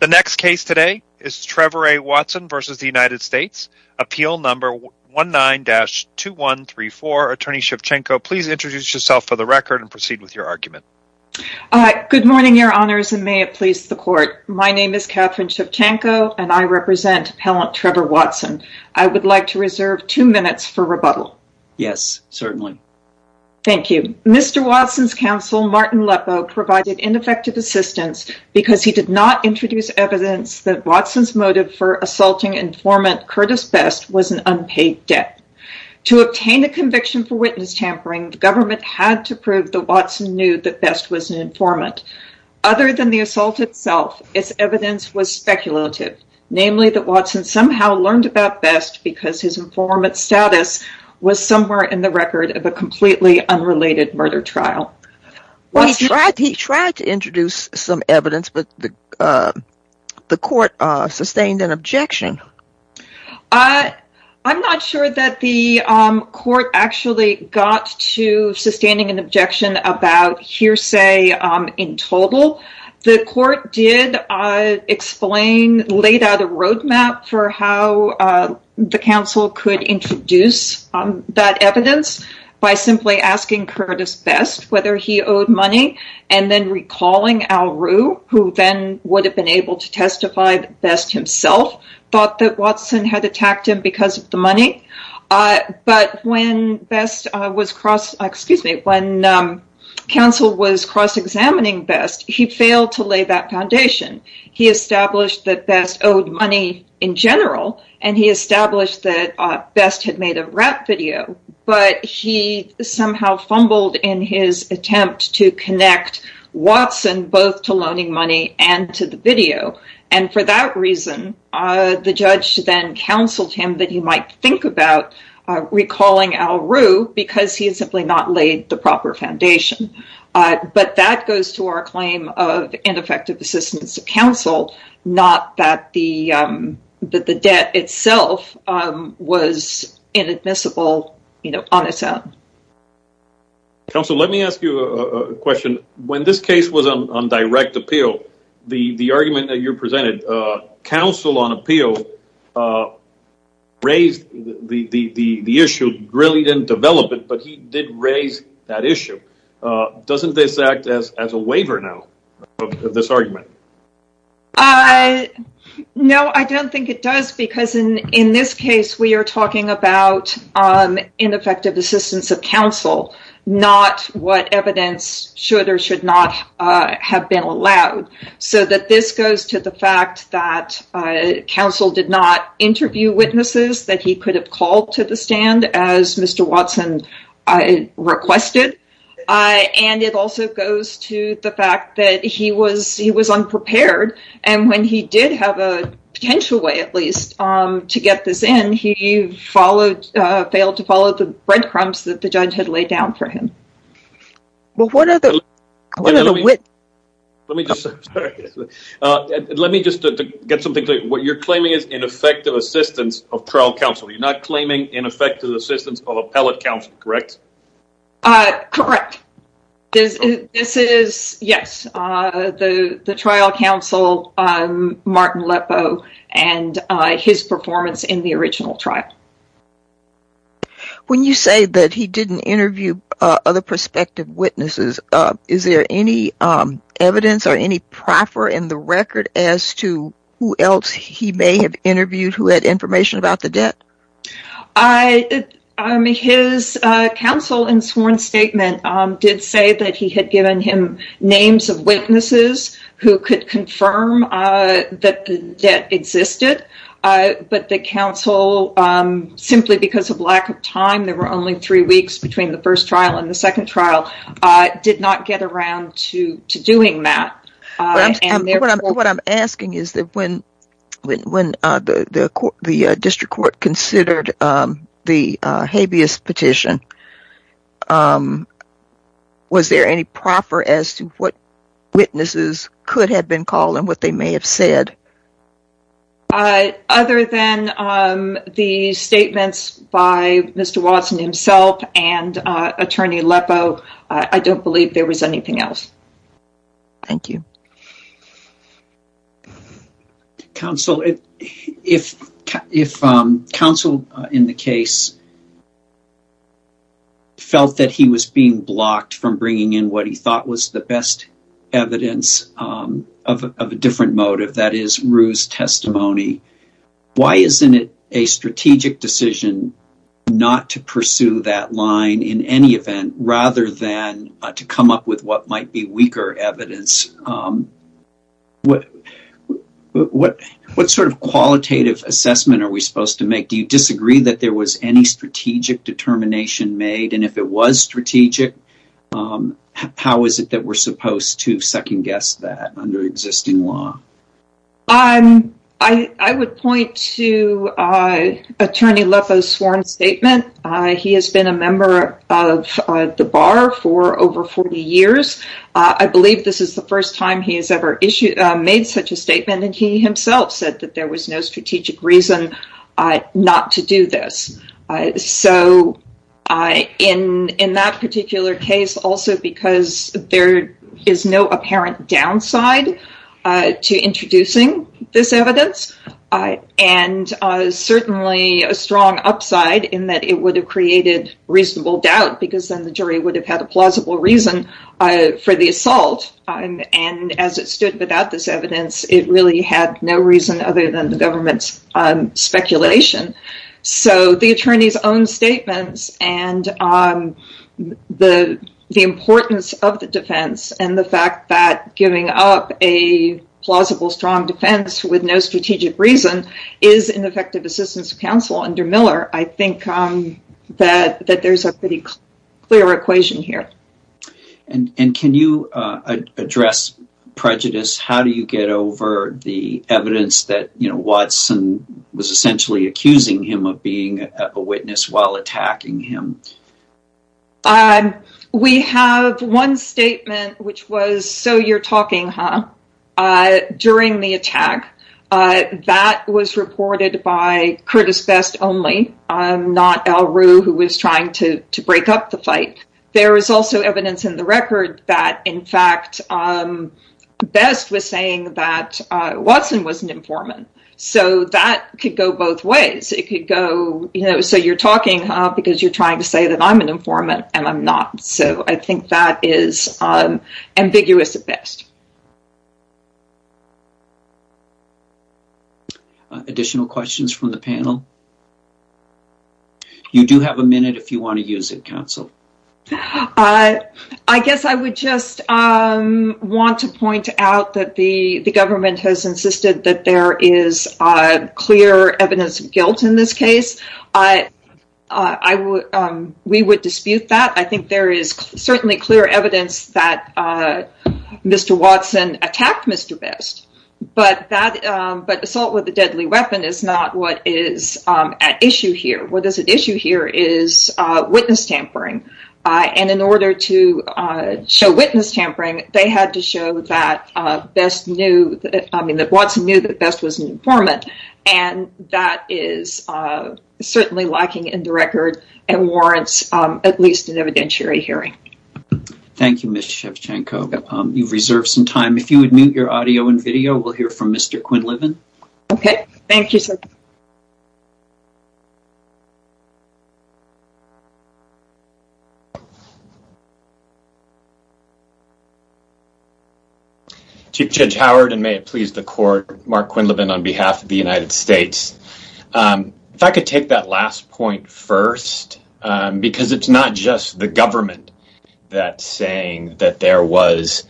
The next case today is Trevor A. Watson v. The United States, Appeal No. 19-2134. Attorney Shevchenko, please introduce yourself for the record and proceed with your argument. Good morning, Your Honors, and may it please the Court. My name is Catherine Shevchenko, and I represent Appellant Trevor Watson. I would like to reserve two minutes for rebuttal. Yes, certainly. Thank you. Mr. Watson's counsel, Martin Lepo, provided ineffective assistance because he did not introduce evidence that Watson's motive for assaulting informant Curtis Best was an unpaid debt. To obtain a conviction for witness tampering, the government had to prove that Watson knew that Best was an informant. Other than the assault itself, its evidence was speculative, namely that Watson somehow learned about Best because his informant status was somewhere in the record of a completely unrelated murder trial. He tried to introduce some evidence, but the court sustained an objection. I'm not sure that the court actually got to sustaining an objection about hearsay in total. The court did explain, laid out a roadmap for how the counsel could introduce that evidence by simply asking Curtis Best whether he owed money and then recalling Al Rue, who then would have been able to testify that Best himself thought that Watson had attacked him because of the money. But when Best was cross-examining Best, he failed to lay that foundation. He established that Best owed money in general, and he established that Best had made a rap video. But he somehow fumbled in his attempt to connect Watson both to loaning money and to the video. And for that reason, the judge then counseled him that he might think about recalling Al Rue because he had simply not laid the proper foundation. But that goes to our claim of ineffective assistance to counsel, not that the debt itself was inadmissible on its own. Counsel, let me ask you a question. When this case was on direct appeal, the argument that you presented, counsel on appeal raised the issue, really didn't develop it, but he did raise that issue. Doesn't this act as a waiver now, this argument? No, I don't think it does because in this case, we are talking about ineffective assistance of counsel, not what evidence should or should not have been allowed. So that this goes to the fact that counsel did not interview witnesses that he could have called to the stand as Mr. Watson requested. And it also goes to the fact that he was unprepared. And when he did have a potential way, at least, to get this in, he failed to follow the breadcrumbs that the judge had laid down for him. Well, what are the witnesses? Let me just get something clear. What you're claiming is ineffective assistance of trial counsel. You're not claiming ineffective assistance of appellate counsel, correct? Correct. This is, yes, the trial counsel, Martin Lepo, and his performance in the original trial. When you say that he didn't interview other prospective witnesses, is there any evidence or any proffer in the record as to who else he may have interviewed who had information about the debt? His counsel in sworn statement did say that he had given him names of witnesses who could confirm that the debt existed. But the counsel, simply because of lack of time, there were only three weeks between the first trial and the second trial, did not get around to doing that. What I'm asking is that when the district court considered the habeas petition, was there any proffer as to what witnesses could have been called and what they may have said? Other than the statements by Mr. Watson himself and Attorney Lepo, I don't believe there was anything else. Thank you. Counsel, if counsel in the case felt that he was being blocked from bringing in what he thought was the best evidence of a different motive, that is Rue's testimony, why isn't it a strategic decision not to pursue that line in any event, rather than to come up with what might be weaker evidence? What sort of qualitative assessment are we supposed to make? Do you disagree that there was any strategic determination made? And if it was strategic, how is it that we're supposed to second-guess that under existing law? I would point to Attorney Lepo's sworn statement. He has been a member of the Bar for over 40 years. I believe this is the first time he has ever made such a statement, and he himself said that there was no strategic reason not to do this. In that particular case, also because there is no apparent downside to introducing this evidence, and certainly a strong upside in that it would have created reasonable doubt, because then the jury would have had a plausible reason for the assault. And as it stood without this evidence, it really had no reason other than the government's speculation. So the attorney's own statements, and the importance of the defense, and the fact that giving up a plausible strong defense with no strategic reason is ineffective assistance to counsel under Miller, I think that there's a pretty clear equation here. And can you address prejudice? How do you get over the evidence that Watson was essentially accusing him of being a witness while attacking him? We have one statement, which was, so you're talking, huh, during the attack. That was reported by Curtis Best only, not Al Rue, who was trying to break up the fight. There is also evidence in the record that, in fact, Best was saying that Watson was an informant. So that could go both ways. So you're talking because you're trying to say that I'm an informant, and I'm not. So I think that is ambiguous at best. Additional questions from the panel? You do have a minute if you want to use it, counsel. I guess I would just want to point out that the government has insisted that there is clear evidence of guilt in this case. We would dispute that. I think there is certainly clear evidence that Mr. Watson attacked Mr. Best. But assault with a deadly weapon is not what is at issue here. What is at issue here is witness tampering. And in order to show witness tampering, they had to show that Best knew, I mean that Watson knew that Best was an informant. And that is certainly lacking in the record and warrants at least an evidentiary hearing. Thank you, Ms. Shevchenko. You've reserved some time. If you would mute your audio and video, we'll hear from Mr. Quinlivan. Okay. Thank you, sir. Chief Judge Howard, and may it please the court, Mark Quinlivan on behalf of the United States. If I could take that last point first, because it's not just the government that's saying that there was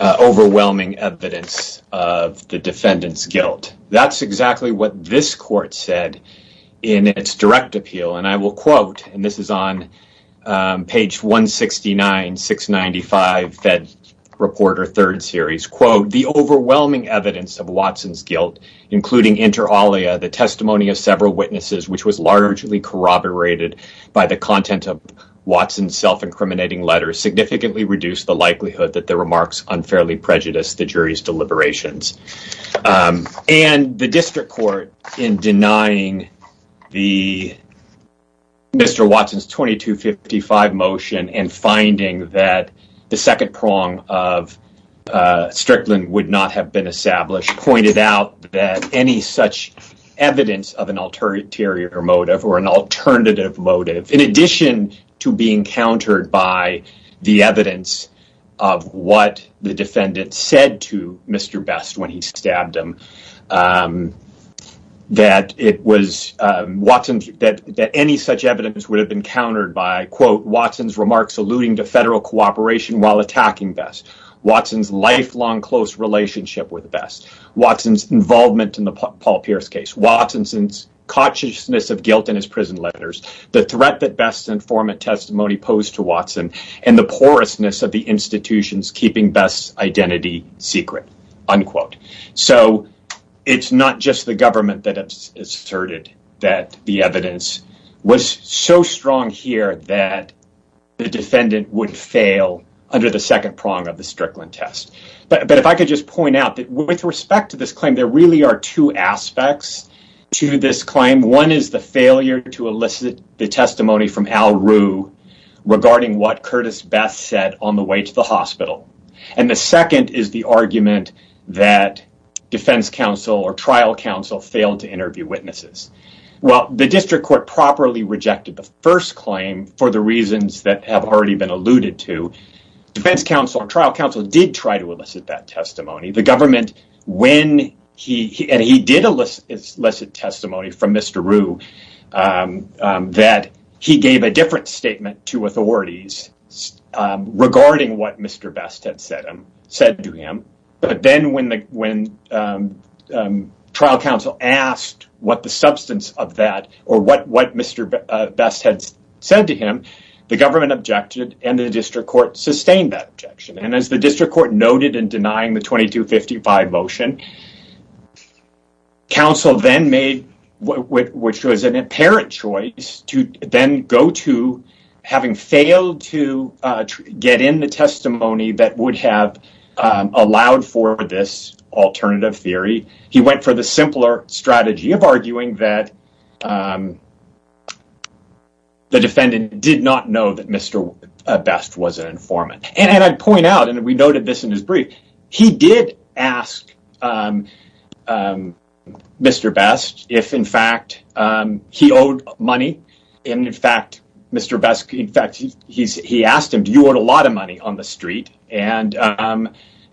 overwhelming evidence of the defendant's guilt. That's exactly what this court said in its direct appeal. And I will quote, and this is on page 169, 695, Fed Reporter 3rd Series. Quote, the overwhelming evidence of Watson's guilt, including inter alia, the testimony of several witnesses, which was largely corroborated by the content of Watson's self-incriminating letters, significantly reduced the likelihood that the remarks unfairly prejudiced the jury's deliberations. And the district court, in denying Mr. Watson's 2255 motion and finding that the second prong of Strickland would not have been established, pointed out that any such evidence of an alternative motive in addition to being countered by the evidence of what the defendant said to Mr. Best when he stabbed him, that it was Watson's, that any such evidence would have been countered by, quote, Watson's remarks alluding to federal cooperation while attacking Best, Watson's lifelong close relationship with Best, Watson's involvement in the Paul Pierce case, Watson's consciousness of guilt in his prison letters, the threat that Best's informant testimony posed to Watson, and the porousness of the institution's keeping Best's identity secret, unquote. So it's not just the government that asserted that the evidence was so strong here that the defendant would fail under the second prong of the Strickland test. But if I could just point out that with respect to this claim, there really are two aspects to this claim. One is the failure to elicit the testimony from Al Rue regarding what Curtis Best said on the way to the hospital. And the second is the argument that defense counsel or trial counsel failed to interview witnesses. While the district court properly rejected the first claim for the reasons that have already been alluded to, defense counsel and trial counsel did try to elicit that testimony. The government, when he did elicit testimony from Mr. Rue, that he gave a different statement to authorities regarding what Mr. Best had said to him. But then when trial counsel asked what the substance of that or what Mr. Best had said to him, the government objected and the district court sustained that objection. And as the district court noted in denying the 2255 motion, counsel then made, which was an apparent choice, to then go to having failed to get in the testimony that would have allowed for this alternative theory. He went for the simpler strategy of arguing that the defendant did not know that Mr. Best was an informant. And I'd point out, and we noted this in his brief, he did ask Mr. Best if, in fact, he owed money. And, in fact, Mr. Best, in fact, he asked him, do you owe a lot of money on the street? And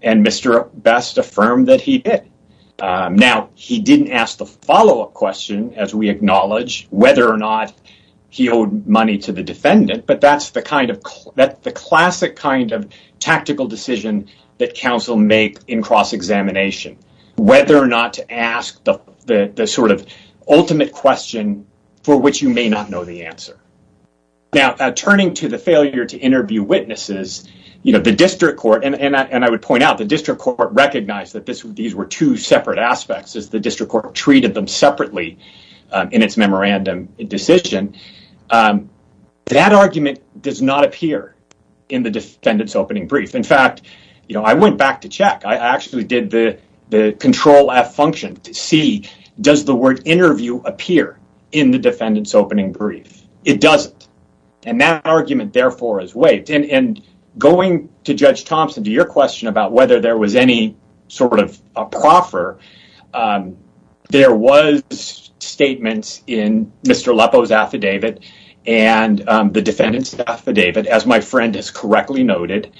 Mr. Best affirmed that he did. Now, he didn't ask the follow-up question, as we acknowledge, whether or not he owed money to the defendant, but that's the classic kind of tactical decision that counsel make in cross-examination, whether or not to ask the sort of ultimate question for which you may not know the answer. Now, turning to the failure to interview witnesses, the district court, and I would point out, the district court recognized that these were two separate aspects as the district court treated them separately in its memorandum decision. That argument does not appear in the defendant's opening brief. In fact, you know, I went back to check. I actually did the Control-F function to see, does the word interview appear in the defendant's opening brief? It doesn't. And that argument, therefore, is waived. And going to Judge Thompson to your question about whether there was any sort of a proffer, there was statements in Mr. Lepo's affidavit and the defendant's affidavit, as my friend has correctly noted.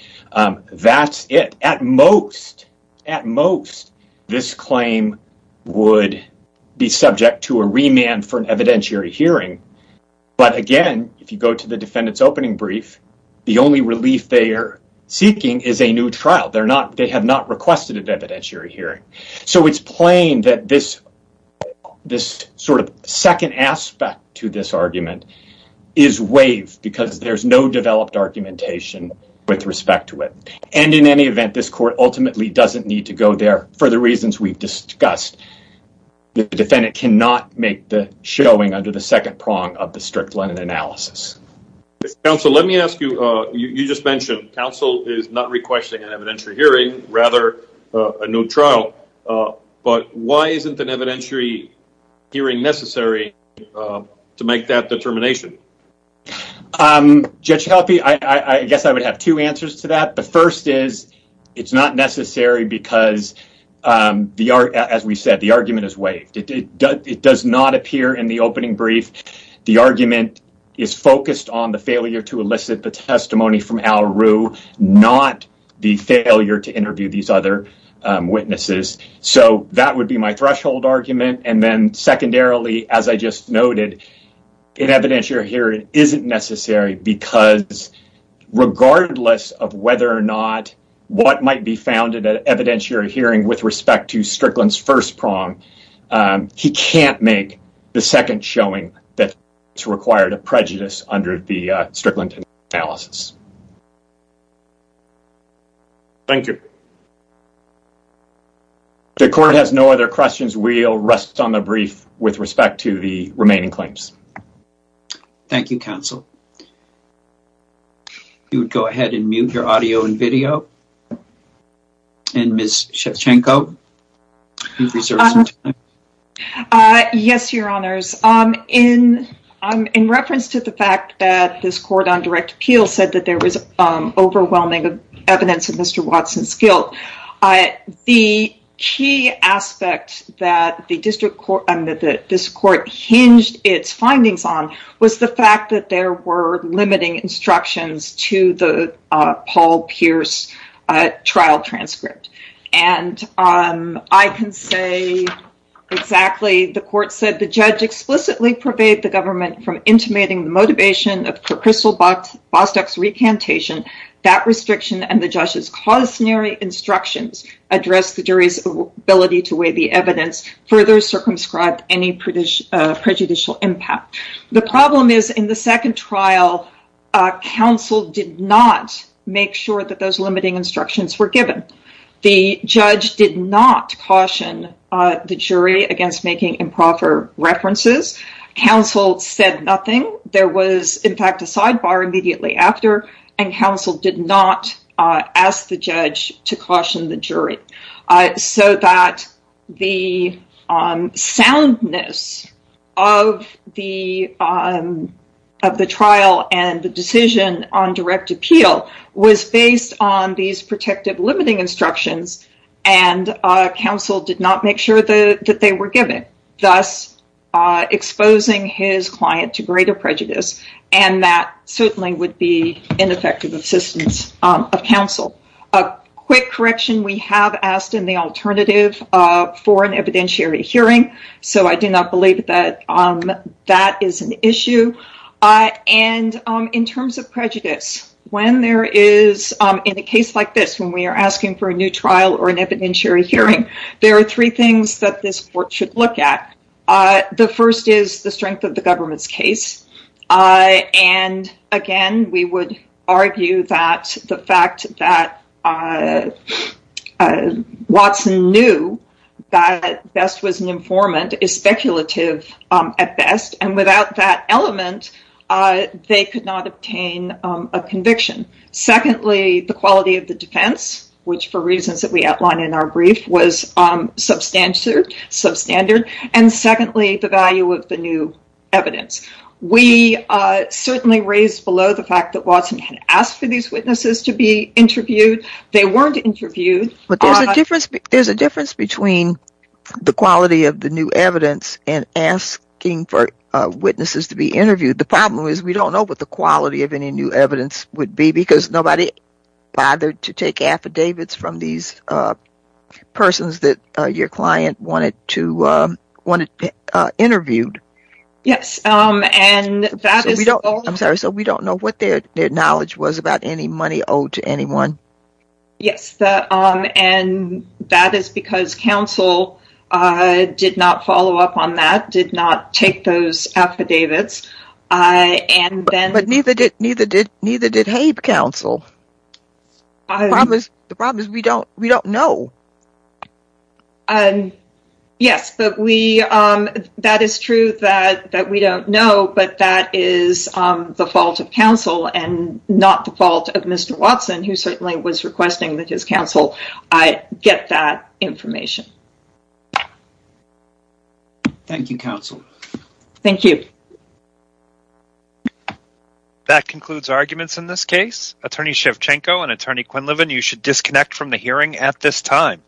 That's it. At most, at most, this claim would be subject to a remand for an evidentiary hearing. But again, if you go to the defendant's opening brief, the only relief they are seeking is a new trial. They have not requested an evidentiary hearing. So it's plain that this sort of second aspect to this argument is waived because there's no developed argumentation with respect to it. And in any event, this court ultimately doesn't need to go there for the reasons we've discussed. The defendant cannot make the showing under the second prong of the strict Lennon analysis. Counsel, let me ask you, you just mentioned, counsel is not requesting an evidentiary hearing, rather a new trial, but why isn't an evidentiary hearing necessary to make that determination? Judge Helpe, I guess I would have two answers to that. The first is it's not necessary because, as we said, the argument is waived. It does not appear in the opening brief. The argument is focused on the failure to elicit the testimony from Al Rue, not the failure to interview these other witnesses. So that would be my threshold argument. And then secondarily, as I just noted, an evidentiary hearing isn't necessary because, regardless of whether or not what might be found in an evidentiary hearing with respect to Strickland's first prong, he can't make the second showing that's required of prejudice under the Strickland analysis. Thank you. If the court has no other questions, we'll rest on the brief with respect to the remaining claims. Thank you, counsel. You would go ahead and mute your audio and video. And Ms. Shevchenko, you've reserved some time. Yes, Your Honors. In reference to the fact that this court on direct appeal said that there was overwhelming evidence of Mr. Watson's guilt, the key aspect that this court hinged its findings on was the fact that there were And I can say exactly. The court said the judge explicitly pervaded the government from intimating the motivation of Crystal Bostock's recantation. That restriction and the judge's cautionary instructions addressed the jury's ability to weigh the evidence further circumscribed any prejudicial impact. The problem is in the second trial, counsel did not make sure that those limiting instructions were given. The judge did not caution the jury against making improper references. Counsel said nothing. There was, in fact, a sidebar immediately after. And counsel did not ask the judge to caution the jury so that the soundness of the trial and the decision on direct appeal was based on these protective limiting instructions. And counsel did not make sure that they were given, thus exposing his client to greater prejudice. And that certainly would be ineffective assistance of counsel. A quick correction, we have asked in the alternative for an evidentiary hearing. So I do not believe that that is an issue. And in terms of prejudice, when there is, in a case like this, when we are asking for a new trial or an evidentiary hearing, there are three things that this court should look at. The first is the strength of the government's case. And, again, we would argue that the fact that Watson knew that Best was an informant is speculative at Best. And without that element, they could not obtain a conviction. Secondly, the quality of the defense, which, for reasons that we outlined in our brief, was substandard. And, secondly, the value of the new evidence. We certainly raised below the fact that Watson had asked for these witnesses to be interviewed. They weren't interviewed. But there's a difference between the quality of the new evidence and asking for witnesses to be interviewed. The problem is we don't know what the quality of any new evidence would be because nobody bothered to take affidavits from these persons that your client wanted interviewed. Yes. I'm sorry. So we don't know what their knowledge was about any money owed to anyone. Yes. And that is because counsel did not follow up on that, did not take those affidavits. But neither did Habe counsel. The problem is we don't know. Yes. That is true that we don't know, but that is the fault of counsel and not the fault of Mr. Watson, who certainly was requesting that his counsel get that information. Thank you, counsel. Thank you. That concludes arguments in this case. Attorney Shevchenko and Attorney Quinlivan, you should disconnect from the hearing at this time.